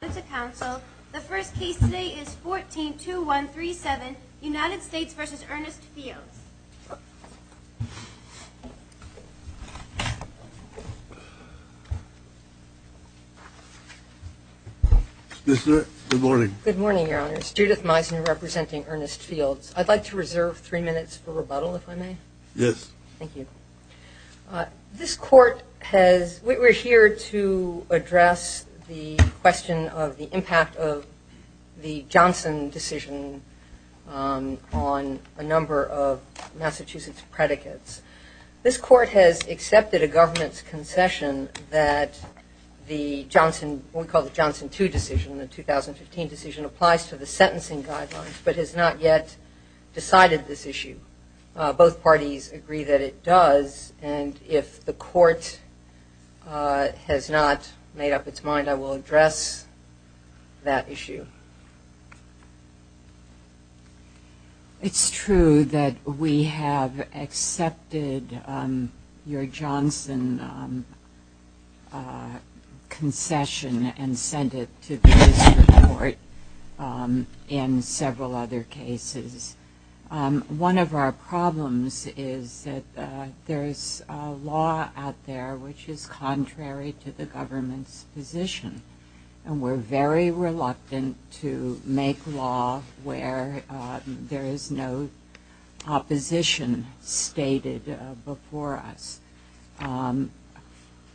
The first case today is 14-2137, United States v. Ernest Fields. Good morning. Good morning, Your Honors. Judith Meisner, representing Ernest Fields. I'd like to reserve three minutes for rebuttal, if I may. Yes. Thank you. This Court has – we're here to address the question of the impact of the Johnson decision on a number of Massachusetts predicates. This Court has accepted a government's concession that the Johnson – what we call the Johnson 2 decision, the 2015 decision, applies to the sentencing guidelines, but has not yet decided this issue. Both parties agree that it does, and if the Court has not made up its mind, I will address that issue. It's true that we have accepted your Johnson concession and sent it to the district court in several other cases. One of our problems is that there is law out there which is contrary to the government's position, and we're very reluctant to make law where there is no opposition stated before us.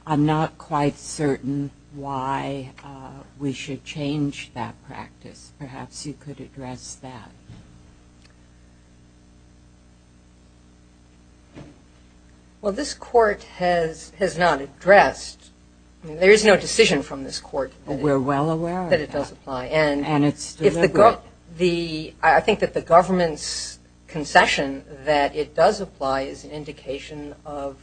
I'm not quite certain why we should change that practice. Perhaps you could address that. Well, this Court has not addressed – there is no decision from this Court that it does apply. We're well aware of that, and it's deliberate. I think that the government's concession that it does apply is an indication of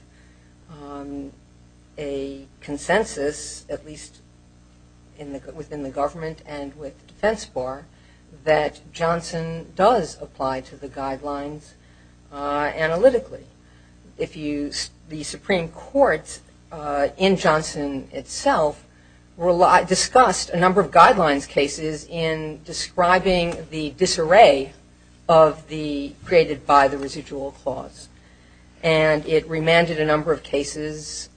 a consensus, at least within the government and with the defense bar, that Johnson does apply to the guidelines analytically. The Supreme Court in Johnson itself discussed a number of guidelines cases in describing the disarray created by the residual clause, and it remanded a number of cases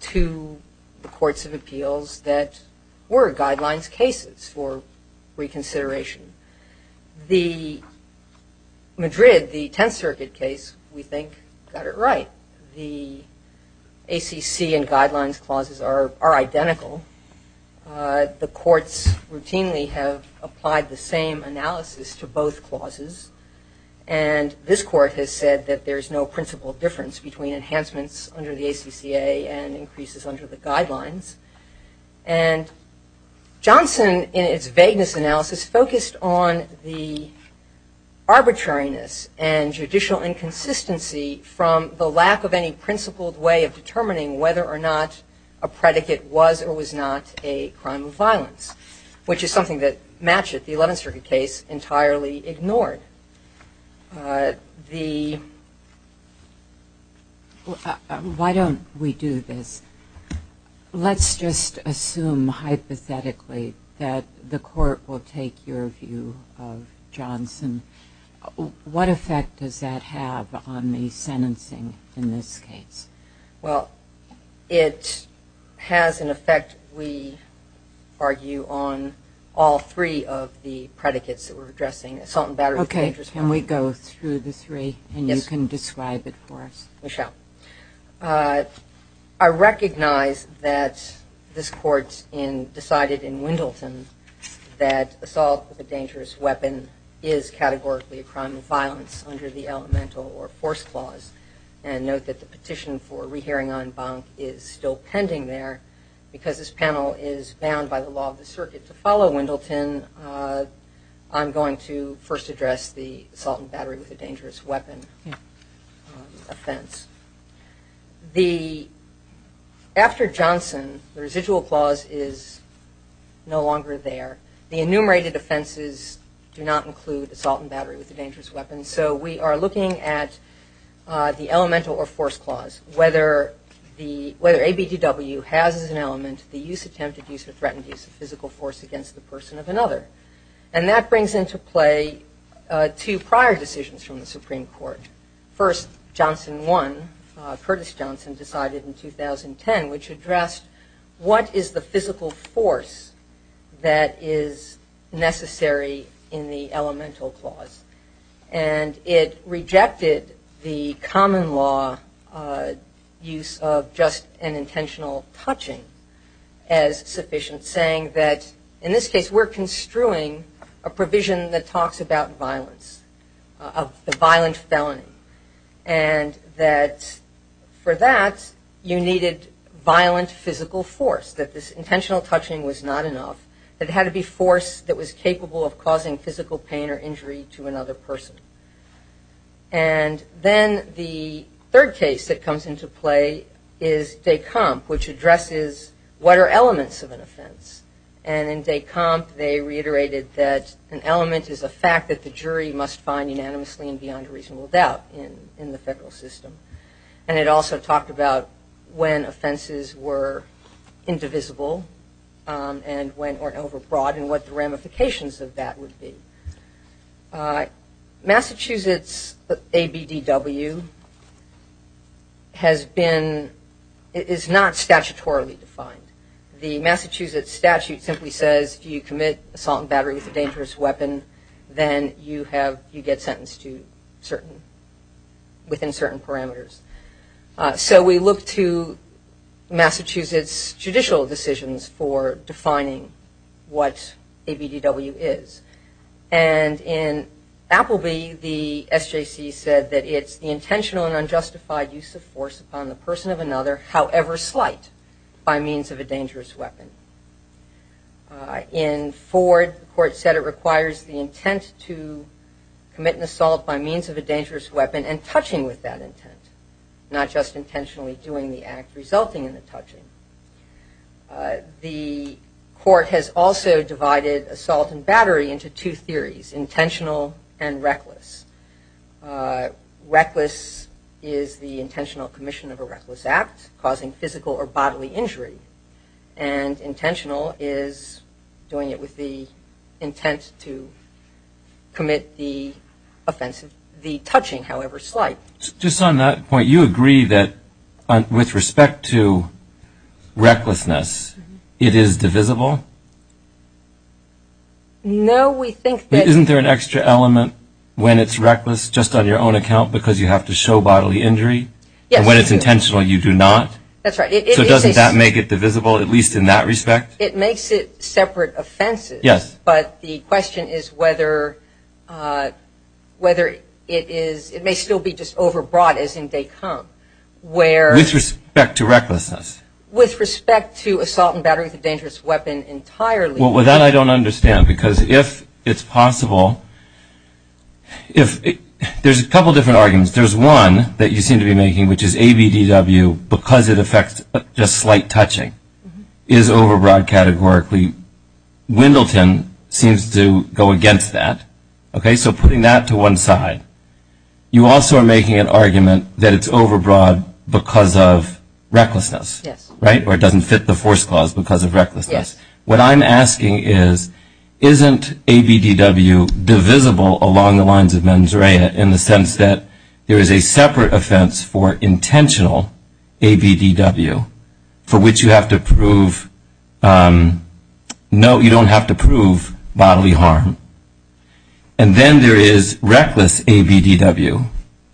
to the courts of appeals that were guidelines cases for reconsideration. The Madrid, the Tenth Circuit case, we think got it right. The ACC and guidelines clauses are identical. The courts routinely have applied the same analysis to both clauses, and this Court has said that there is no principal difference between enhancements under the ACCA and increases under the guidelines. And Johnson, in its vagueness analysis, focused on the arbitrariness and judicial inconsistency from the lack of any principled way of determining whether or not a predicate was or was not a crime of violence, which is something that Matchett, the Eleventh Circuit case, entirely ignored. Why don't we do this? Let's just assume hypothetically that the Court will take your view of Johnson. What effect does that have on the sentencing in this case? Well, it has an effect, we argue, on all three of the predicates that we're addressing, assault and battery of conviction, Okay, can we go through the three and you can describe it for us? We shall. I recognize that this Court decided in Wendleton that assault with a dangerous weapon is categorically a crime of violence under the Elemental or Force Clause, and note that the petition for rehearing en banc is still pending there because this panel is bound by the law of the circuit. To follow Wendleton, I'm going to first address the assault and battery with a dangerous weapon offense. After Johnson, the residual clause is no longer there. The enumerated offenses do not include assault and battery with a dangerous weapon, so we are looking at the Elemental or Force Clause. whether ABDW has as an element the use, attempted use, or threatened use of physical force against the person of another, and that brings into play two prior decisions from the Supreme Court. First, Johnson 1, Curtis Johnson, decided in 2010 which addressed what is the physical force that is necessary in the Elemental Clause, and it rejected the common law use of just an intentional touching as sufficient, saying that in this case we're construing a provision that talks about violence, of the violent felony, and that for that you needed violent physical force, that this intentional touching was not enough, that it had to be force that was capable of causing physical pain or injury to another person. And then the third case that comes into play is de Camp, which addresses what are elements of an offense, and in de Camp they reiterated that an element is a fact that the jury must find unanimously and beyond a reasonable doubt in the federal system, and it also talked about when offenses were indivisible and went overbroad and what the ramifications of that would be. Massachusetts ABDW has been, is not statutorily defined. The Massachusetts statute simply says if you commit assault and battery with a dangerous weapon, then you have, you get sentenced to certain, within certain parameters. So we look to Massachusetts judicial decisions for defining what ABDW is, and in Appleby the SJC said that it's the intentional and unjustified use of force upon the person of another, however slight, by means of a dangerous weapon. In Ford, the court said it requires the intent to commit an assault by means of a dangerous weapon and touching with that intent, not just intentionally doing the act resulting in the touching. The court has also divided assault and battery into two theories, intentional and reckless. Reckless is the intentional commission of a reckless act causing physical or bodily injury, and intentional is doing it with the intent to commit the offensive, the touching, however slight. Just on that point, you agree that with respect to recklessness, it is divisible? No, we think that... Isn't there an extra element when it's reckless just on your own account because you have to show bodily injury? Yes. And when it's intentional you do not? That's right. So doesn't that make it divisible, at least in that respect? It makes it separate offenses. Yes. But the question is whether it is, it may still be just overbought as in day come, where... With respect to recklessness. With respect to assault and battery with a dangerous weapon entirely. Well, that I don't understand because if it's possible, if, there's a couple different arguments. There's one that you seem to be making, which is ABDW, because it affects just slight touching, is overbought categorically. Wendleton seems to go against that. Okay? So putting that to one side, you also are making an argument that it's overbought because of recklessness. Yes. Right? Or it doesn't fit the force clause because of recklessness. Yes. What I'm asking is, isn't ABDW divisible along the lines of mens rea in the sense that there is a separate offense for intentional ABDW, for which you have to prove, no, you don't have to prove bodily harm. And then there is reckless ABDW,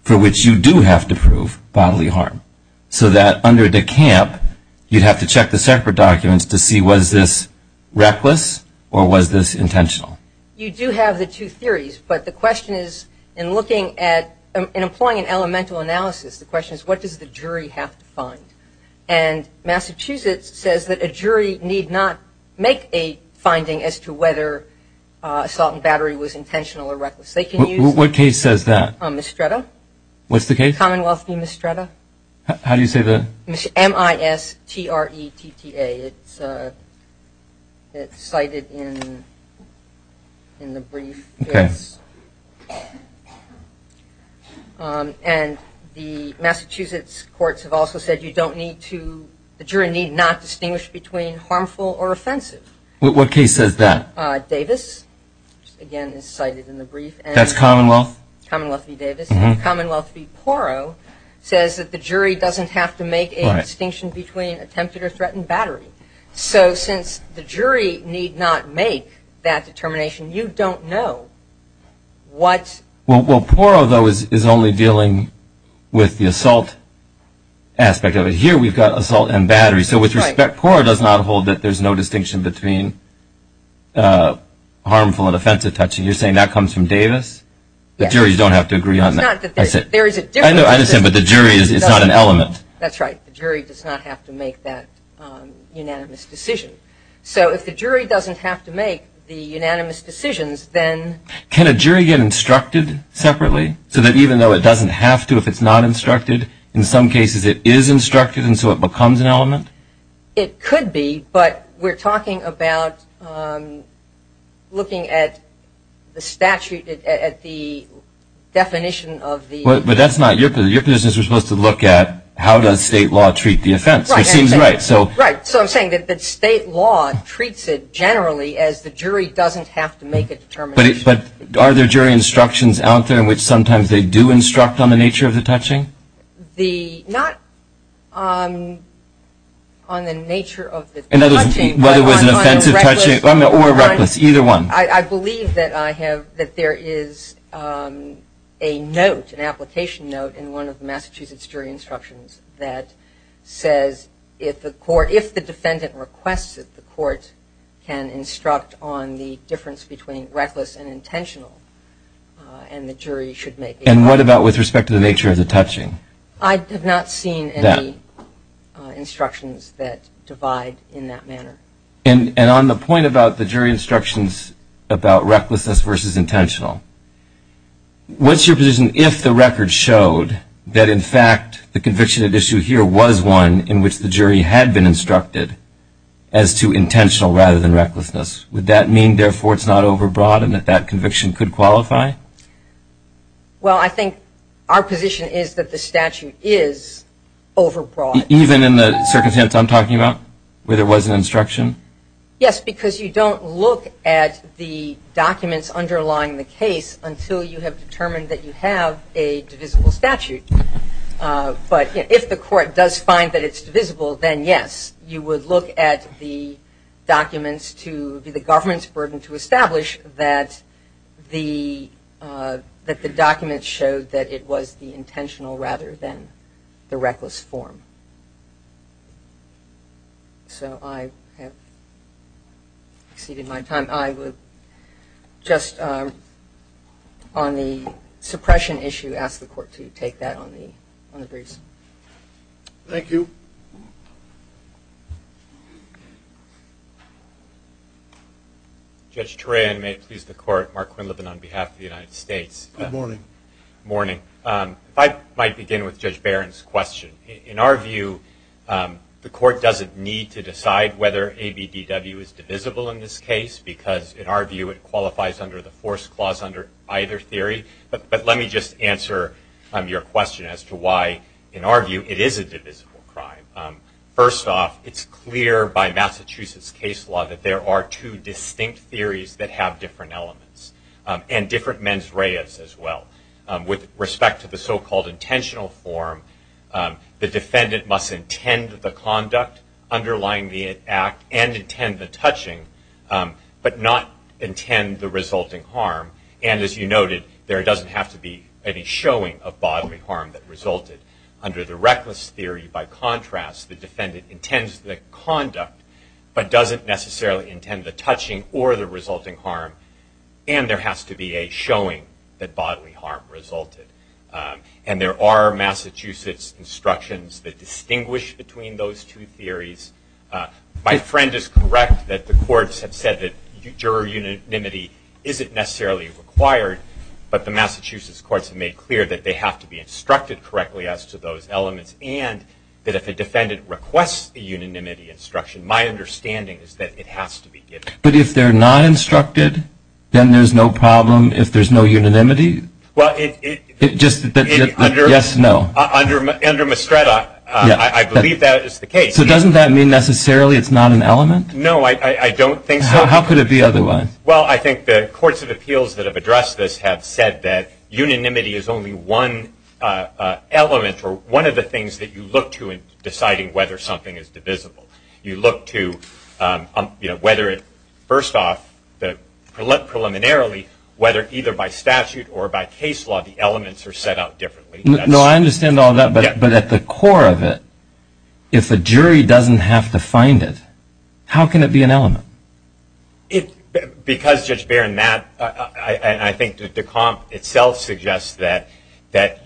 for which you do have to prove bodily harm. So that under DECAMP, you'd have to check the separate documents to see was this reckless or was this intentional? You do have the two theories, but the question is, in looking at, in employing an elemental analysis, the question is what does the jury have to find? And Massachusetts says that a jury need not make a finding as to whether assault and battery was intentional or reckless. They can use a mistretta. What case says that? What's the case? Commonwealth v. Mistretta. How do you say the? M-I-S-T-R-E-T-T-A. It's cited in the brief. Okay. And the Massachusetts courts have also said you don't need to, the jury need not distinguish between harmful or offensive. What case says that? Davis, again, is cited in the brief. That's Commonwealth? Commonwealth v. Davis. And Commonwealth v. Porro says that the jury doesn't have to make a distinction between attempted or threatened battery. So since the jury need not make that determination, you don't know what's. Well, Porro, though, is only dealing with the assault aspect of it. Here we've got assault and battery. So with respect, Porro does not hold that there's no distinction between harmful and offensive touching. You're saying that comes from Davis? Yes. The jury don't have to agree on that. It's not that there is a difference. I understand, but the jury is not an element. That's right. The jury does not have to make that unanimous decision. So if the jury doesn't have to make the unanimous decisions, then. Can a jury get instructed separately so that even though it doesn't have to if it's not instructed, in some cases it is instructed and so it becomes an element? It could be, but we're talking about looking at the statute, at the definition of the. But that's not your business. Your business is supposed to look at how does state law treat the offense, which seems right. Right. So I'm saying that state law treats it generally as the jury doesn't have to make a determination. But are there jury instructions out there in which sometimes they do instruct on the nature of the touching? Not on the nature of the touching. Whether it was an offensive touching or reckless, either one. I believe that I have, that there is a note, an application note, in one of the Massachusetts jury instructions that says if the court, if the defendant requests that the court can instruct on the difference between reckless and intentional and the jury should make a judgment. And what about with respect to the nature of the touching? I have not seen any instructions that divide in that manner. And on the point about the jury instructions about recklessness versus intentional, what's your position if the record showed that in fact the conviction at issue here was one in which the jury had been instructed as to intentional rather than recklessness? Would that mean therefore it's not overbroad and that that conviction could qualify? Well, I think our position is that the statute is overbroad. Even in the circumstance I'm talking about where there was an instruction? Yes, because you don't look at the documents underlying the case until you have determined that you have a divisible statute. But if the court does find that it's divisible, then yes. You would look at the documents to be the government's burden to establish that the documents showed that it was the intentional rather than the reckless form. So I have exceeded my time. I would just on the suppression issue ask the court to take that on the briefs. Thank you. Judge Turayan, may it please the court. Mark Quinlivan on behalf of the United States. Good morning. Good morning. If I might begin with Judge Barron's question. In our view, the court doesn't need to decide whether ABDW is divisible in this case, because in our view it qualifies under the force clause under either theory. But let me just answer your question as to why in our view it is a divisible crime. First off, it's clear by Massachusetts case law that there are two distinct theories that have different elements and different mens reas as well. With respect to the so-called intentional form, the defendant must intend the conduct underlying the act and intend the touching, but not intend the resulting harm. And as you noted, there doesn't have to be any showing of bodily harm that resulted. Under the reckless theory, by contrast, the defendant intends the conduct, but doesn't necessarily intend the touching or the resulting harm, and there has to be a showing that bodily harm resulted. And there are Massachusetts instructions that distinguish between those two theories. My friend is correct that the courts have said that juror unanimity isn't necessarily required, but the Massachusetts courts have made clear that they have to be instructed correctly as to those elements and that if a defendant requests the unanimity instruction, my understanding is that it has to be given. But if they're not instructed, then there's no problem if there's no unanimity? Well, it's just that yes and no. Under Mastretta, I believe that is the case. So doesn't that mean necessarily it's not an element? No, I don't think so. How could it be otherwise? Well, I think the courts of appeals that have addressed this have said that unanimity is only one element or one of the things that you look to in deciding whether something is divisible. You look to whether it first off, preliminarily, whether either by statute or by case law, the elements are set out differently. No, I understand all that. But at the core of it, if a jury doesn't have to find it, how can it be an element? Because, Judge Barron, I think Decompte itself suggests that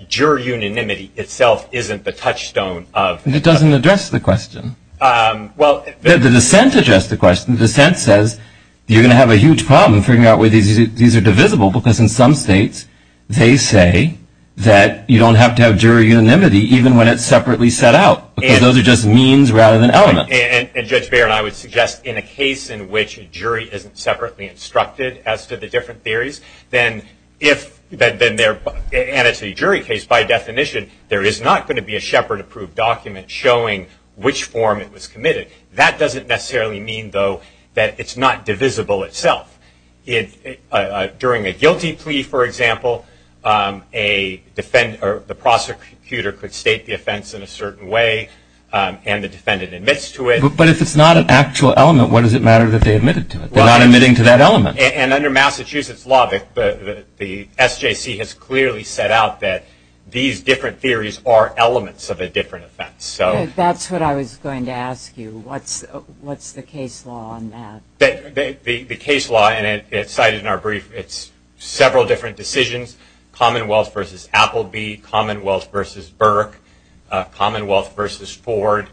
juror unanimity itself isn't the touchstone of the... It doesn't address the question. Well... The dissent addressed the question. The dissent says you're going to have a huge problem figuring out whether these are divisible because in some states they say that you don't have to have juror unanimity even when it's separately set out because those are just means rather than elements. And, Judge Barron, I would suggest in a case in which a jury isn't separately instructed as to the different theories, then if... and it's a jury case, by definition, there is not going to be a Shepard-approved document showing which form it was committed. That doesn't necessarily mean, though, that it's not divisible itself. During a guilty plea, for example, the prosecutor could state the offense in a certain way and the defendant admits to it. But if it's not an actual element, what does it matter that they admitted to it? They're not admitting to that element. And under Massachusetts law, the SJC has clearly set out that these different theories are elements of a different offense. That's what I was going to ask you. What's the case law on that? The case law, and it's cited in our brief, it's several different decisions, Commonwealth v. Appleby, Commonwealth v. Burke, Commonwealth v. Ford.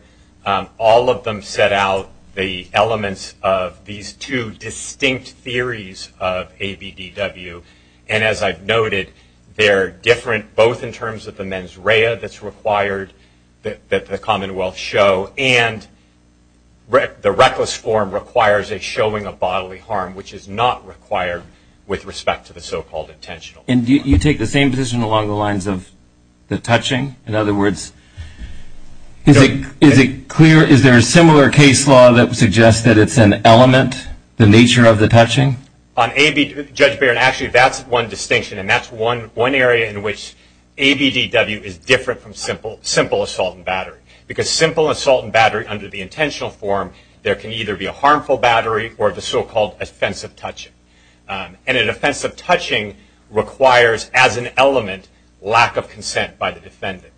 All of them set out the elements of these two distinct theories of ABDW. And as I've noted, they're different both in terms of the mens rea that's required that the Commonwealth show and the reckless form requires a showing of bodily harm, which is not required with respect to the so-called intentional harm. And you take the same position along the lines of the touching? In other words, is it clear, is there a similar case law that suggests that it's an element, the nature of the touching? On ABDW, Judge Barron, actually that's one distinction, and that's one area in which ABDW is different from simple assault and battery. Because simple assault and battery under the intentional form, there can either be a harmful battery or the so-called offensive touching. And an offensive touching requires, as an element, lack of consent by the defendant.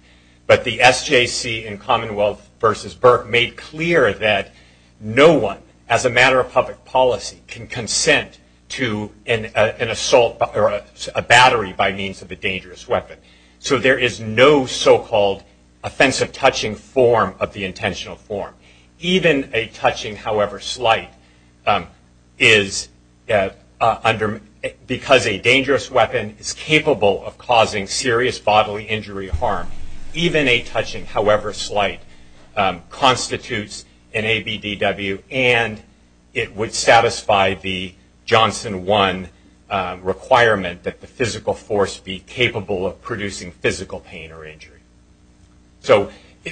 But the SJC in Commonwealth v. Burke made clear that no one, as a matter of public policy, can consent to an assault or a battery by means of a dangerous weapon. So there is no so-called offensive touching form of the intentional form. Even a touching, however slight, because a dangerous weapon is capable of causing serious bodily injury harm, even a touching, however slight, constitutes an ABDW, and it would satisfy the Johnson 1 requirement that the physical force be capable of producing physical pain or injury.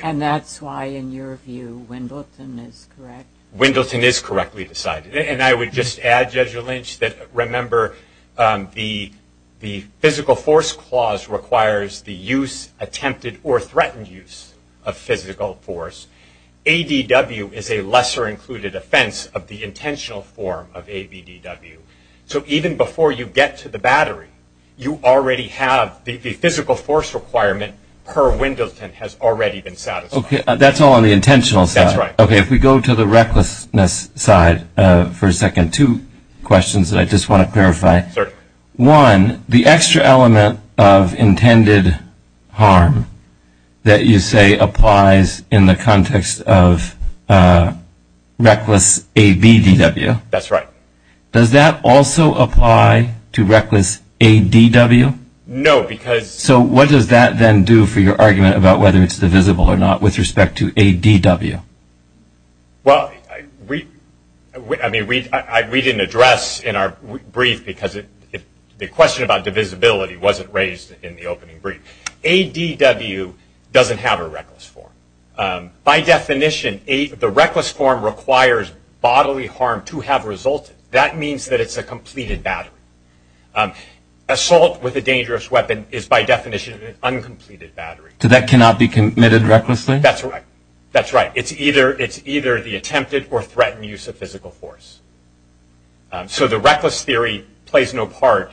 And that's why, in your view, Wendleton is correct? Wendleton is correctly decided. And I would just add, Judge Lynch, that remember, the physical force clause requires the use, attempted or threatened use, of physical force. ABDW is a lesser included offense of the intentional form of ABDW. So even before you get to the battery, you already have the physical force requirement per Wendleton has already been satisfied. Okay, that's all on the intentional side. That's right. Okay, if we go to the recklessness side for a second, two questions that I just want to clarify. Certainly. One, the extra element of intended harm that you say applies in the context of reckless ABDW. That's right. Does that also apply to reckless ADW? No, because. So what does that then do for your argument about whether it's divisible or not with respect to ADW? Well, I mean, we didn't address in our brief because the question about divisibility wasn't raised in the opening brief. ADW doesn't have a reckless form. By definition, the reckless form requires bodily harm to have resulted. That means that it's a completed battery. Assault with a dangerous weapon is, by definition, an uncompleted battery. So that cannot be committed recklessly? That's right. That's right. It's either the attempted or threatened use of physical force. So the reckless theory plays no part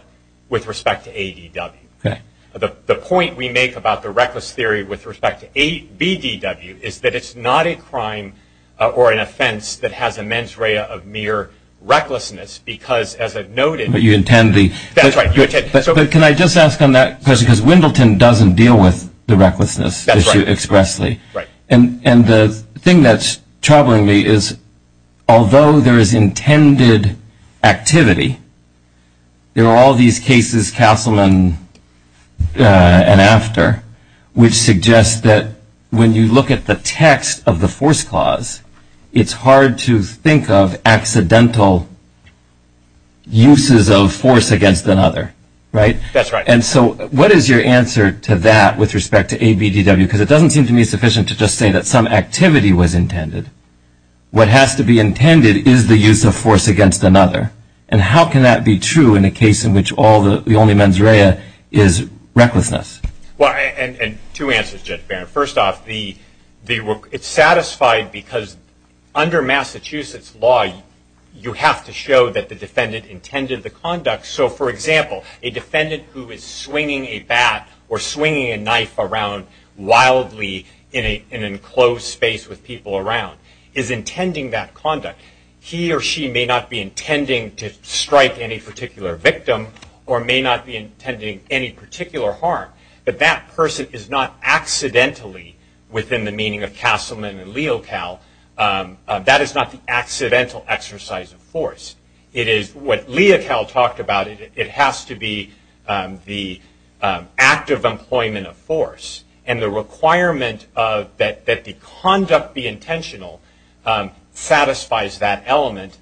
with respect to ADW. Okay. The point we make about the reckless theory with respect to ABDW is that it's not a crime or an offense that has a mens rea of mere recklessness because, as I've noted. But you intend the. That's right. But can I just ask on that question because Wendleton doesn't deal with the recklessness issue expressly. Right. And the thing that's troubling me is, although there is intended activity, there are all these cases, Castleman and after, which suggest that when you look at the text of the force clause, it's hard to think of accidental uses of force against another. Right? That's right. And so what is your answer to that with respect to ABDW? Because it doesn't seem to me sufficient to just say that some activity was intended. What has to be intended is the use of force against another. And how can that be true in a case in which all the only mens rea is recklessness? Well, and two answers, Judge Barron. First off, it's satisfied because under Massachusetts law, you have to show that the defendant intended the conduct. So, for example, a defendant who is swinging a bat or swinging a knife around wildly in an enclosed space with people around, is intending that conduct. He or she may not be intending to strike any particular victim or may not be intending any particular harm, but that person is not accidentally, within the meaning of Castleman and Leocal, that is not the accidental exercise of force. It is what Leocal talked about. It has to be the act of employment of force, and the requirement that the conduct be intentional satisfies that element.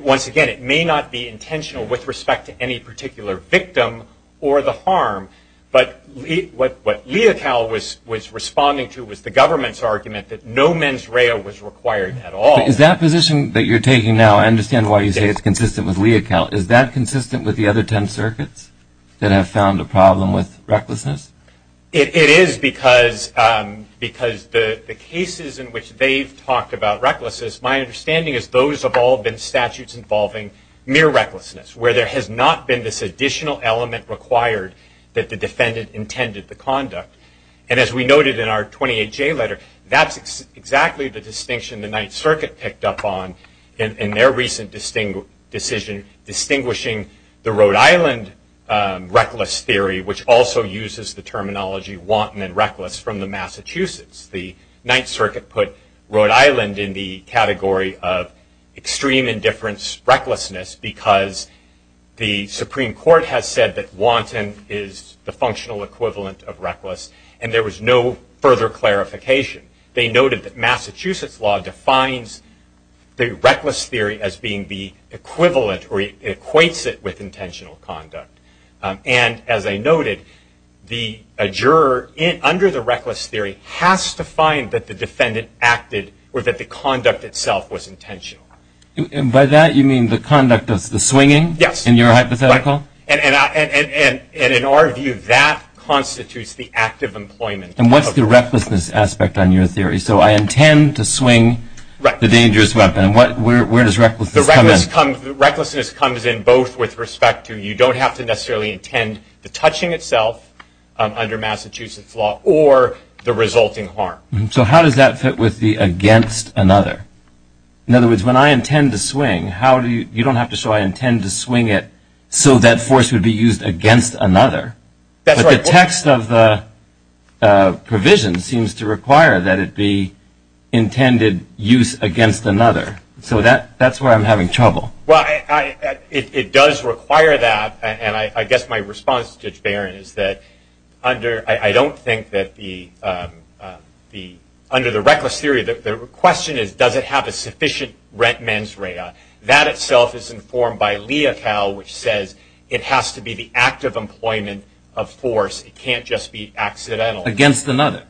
Once again, it may not be intentional with respect to any particular victim or the harm, but what Leocal was responding to was the government's argument that no mens rea was required at all. Now, is that position that you're taking now, I understand why you say it's consistent with Leocal, is that consistent with the other ten circuits that have found a problem with recklessness? It is because the cases in which they've talked about recklessness, my understanding is those have all been statutes involving mere recklessness, where there has not been this additional element required that the defendant intended the conduct. As we noted in our 28J letter, that's exactly the distinction the Ninth Circuit picked up on in their recent decision distinguishing the Rhode Island reckless theory, which also uses the terminology wanton and reckless, from the Massachusetts. The Ninth Circuit put Rhode Island in the category of extreme indifference recklessness because the Supreme Court has said that wanton is the functional equivalent of reckless, and there was no further clarification. They noted that Massachusetts law defines the reckless theory as being the equivalent or equates it with intentional conduct. And as I noted, the juror under the reckless theory has to find that the defendant acted or that the conduct itself was intentional. And by that you mean the conduct of the swinging? Yes. In your hypothetical? Right. And in our view, that constitutes the act of employment. And what's the recklessness aspect on your theory? So I intend to swing the dangerous weapon. Right. And where does recklessness come in? Recklessness comes in both with respect to you don't have to necessarily intend the touching itself under Massachusetts law or the resulting harm. So how does that fit with the against another? In other words, when I intend to swing, you don't have to show I intend to swing it so that force would be used against another. But the text of the provision seems to require that it be intended use against another. So that's where I'm having trouble. Well, it does require that. And I guess my response to Judge Barron is that I don't think that under the reckless theory, the question is does it have a sufficient mens rea. That itself is informed by Leocal, which says it has to be the act of employment of force. It can't just be accidental. Against another.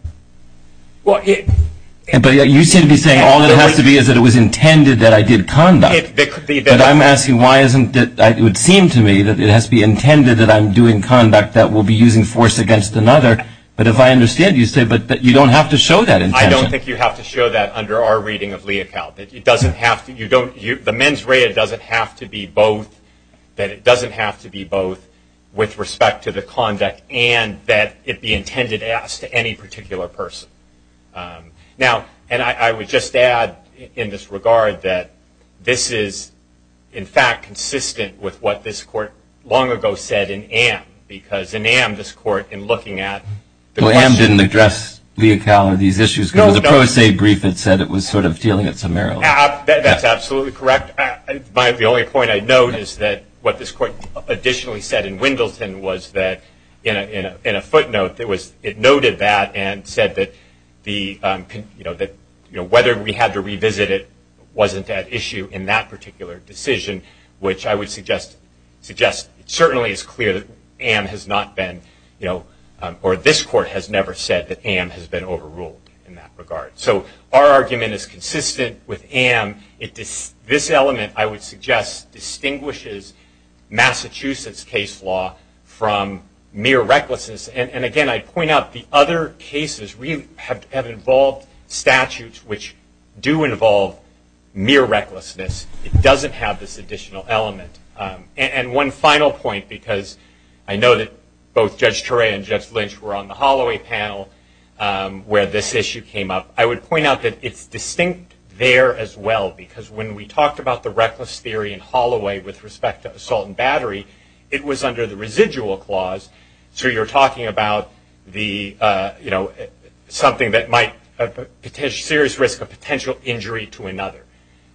But you seem to be saying all it has to be is that it was intended that I did conduct. But I'm asking why isn't it that it would seem to me that it has to be intended that I'm doing conduct that will be using force against another. But if I understand you say that you don't have to show that intention. I don't think you have to show that under our reading of Leocal. The mens rea doesn't have to be both. That it doesn't have to be both with respect to the conduct and that it be intended as to any particular person. Now, and I would just add in this regard that this is, in fact, consistent with what this court long ago said in Amm. Because in Amm, this court, in looking at the question. It didn't address Leocal or these issues. It was a pro se brief that said it was sort of dealing at some error. That's absolutely correct. The only point I'd note is that what this court additionally said in Wendleton was that, in a footnote, it noted that and said that whether we had to revisit it wasn't at issue in that particular decision. Which I would suggest certainly is clear that Amm has not been, or this court has never said that Amm has been overruled in that regard. So our argument is consistent with Amm. This element, I would suggest, distinguishes Massachusetts case law from mere recklessness. And again, I'd point out the other cases have involved statutes which do involve mere recklessness. It doesn't have this additional element. And one final point, because I know that both Judge Turay and Judge Lynch were on the Holloway panel, where this issue came up. I would point out that it's distinct there as well, because when we talked about the reckless theory in Holloway with respect to assault and battery, it was under the residual clause. So you're talking about something that might, a serious risk of potential injury to another.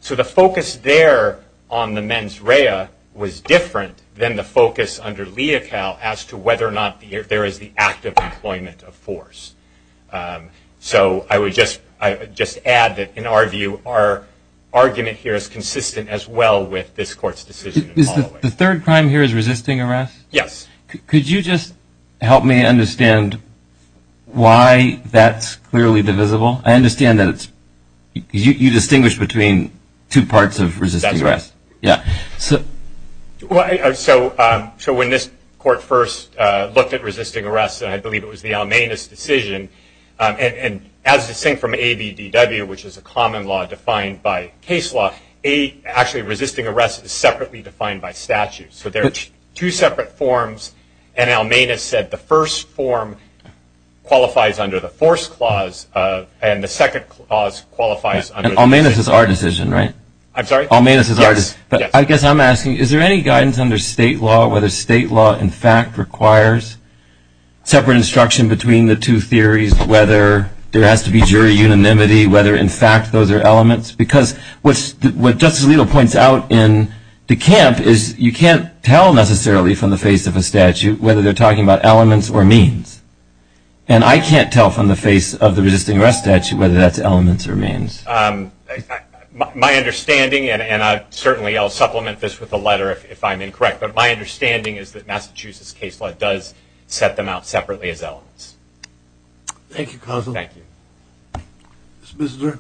So the focus there on the mens rea was different than the focus under lea cal as to whether or not there is the act of employment of force. So I would just add that, in our view, our argument here is consistent as well with this court's decision in Holloway. The third crime here is resisting arrest? Yes. Could you just help me understand why that's clearly divisible? I understand that you distinguish between two parts of resisting arrest. That's right. So when this court first looked at resisting arrest, and I believe it was the Almanis decision, and as distinct from ABDW, which is a common law defined by case law, actually resisting arrest is separately defined by statute. So there are two separate forms. And Almanis said the first form qualifies under the force clause, and the second clause qualifies under the decision. And Almanis is our decision, right? I'm sorry? Almanis is our decision. Yes. But I guess I'm asking, is there any guidance under state law whether state law, in fact, requires separate instruction between the two theories, whether there has to be jury unanimity, whether, in fact, those are elements? Because what Justice Alito points out in the camp is you can't tell necessarily from the face of a statute whether they're talking about elements or means. And I can't tell from the face of the resisting arrest statute whether that's elements or means. My understanding, and certainly I'll supplement this with a letter if I'm incorrect, but my understanding is that Massachusetts case law does set them out separately as elements. Thank you, counsel. Thank you. Ms. Bissinger.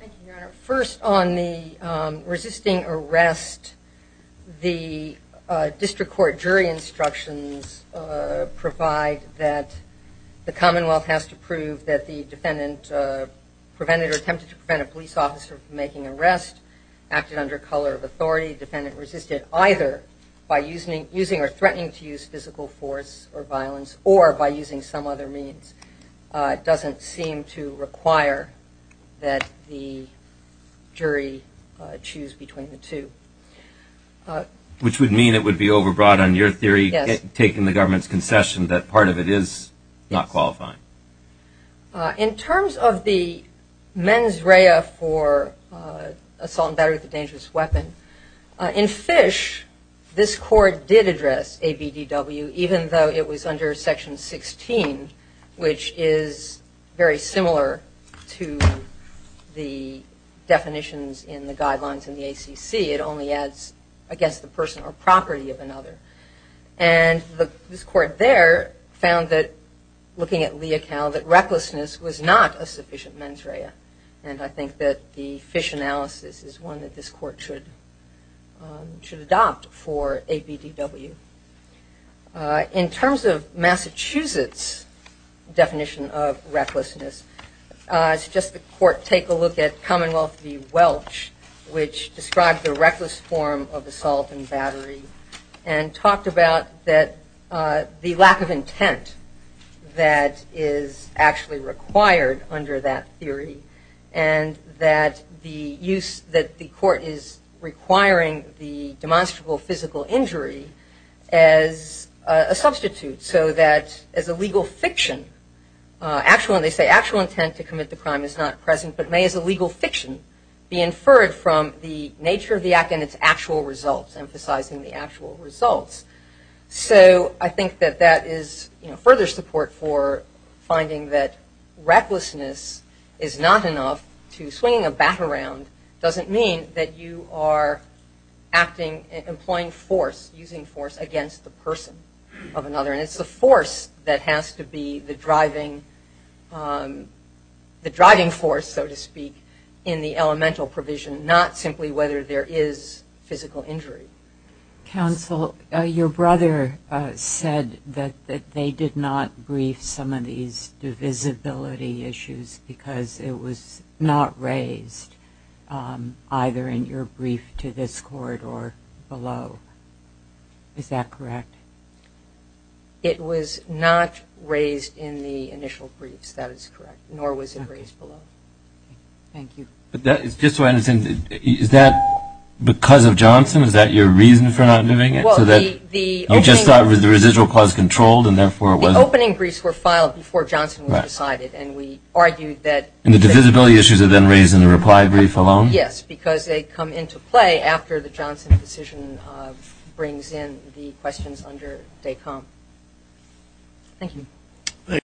Thank you, Your Honor. First, on the resisting arrest, the district court jury instructions provide that the Commonwealth has to prove that the defendant prevented or attempted to prevent a police officer from making an arrest, acted under color of authority, defendant resisted either by using or threatening to use physical force or violence or by using some other means. It doesn't seem to require that the jury choose between the two. Which would mean it would be overbroad on your theory, taking the government's concession, that part of it is not qualifying. In terms of the mens rea for assault and battery with a dangerous weapon, in Fish this court did address ABDW even though it was under section 16, which is very similar to the definitions in the guidelines in the ACC. It only adds against the person or property of another. And this court there found that, looking at Leocal, that recklessness was not a sufficient mens rea. And I think that the Fish analysis is one that this court should adopt for ABDW. In terms of Massachusetts' definition of recklessness, I suggest the court take a look at Commonwealth v. Welch, which described the reckless form of assault and battery, and talked about the lack of intent that is actually required under that theory, and that the court is requiring the demonstrable physical injury as a substitute, so that as a legal fiction, they say actual intent to commit the crime is not present, but may as a legal fiction be inferred from the nature of the act and its actual results, emphasizing the actual results. So I think that that is further support for finding that recklessness is not enough. Swinging a bat around doesn't mean that you are acting, employing force, using force against the person of another. And it's the force that has to be the driving force, so to speak, in the elemental provision, not simply whether there is physical injury. Counsel, your brother said that they did not brief some of these divisibility issues because it was not raised either in your brief to this court or below. Is that correct? It was not raised in the initial briefs. That is correct. Nor was it raised below. Thank you. Just so I understand, is that because of Johnson? Is that your reason for not doing it? I just thought it was the residual clause controlled, and therefore it wasn't. The opening briefs were filed before Johnson was decided, and we argued that And the divisibility issues are then raised in the reply brief alone? Yes, because they come into play after the Johnson decision brings in the questions under DECOM. Thank you.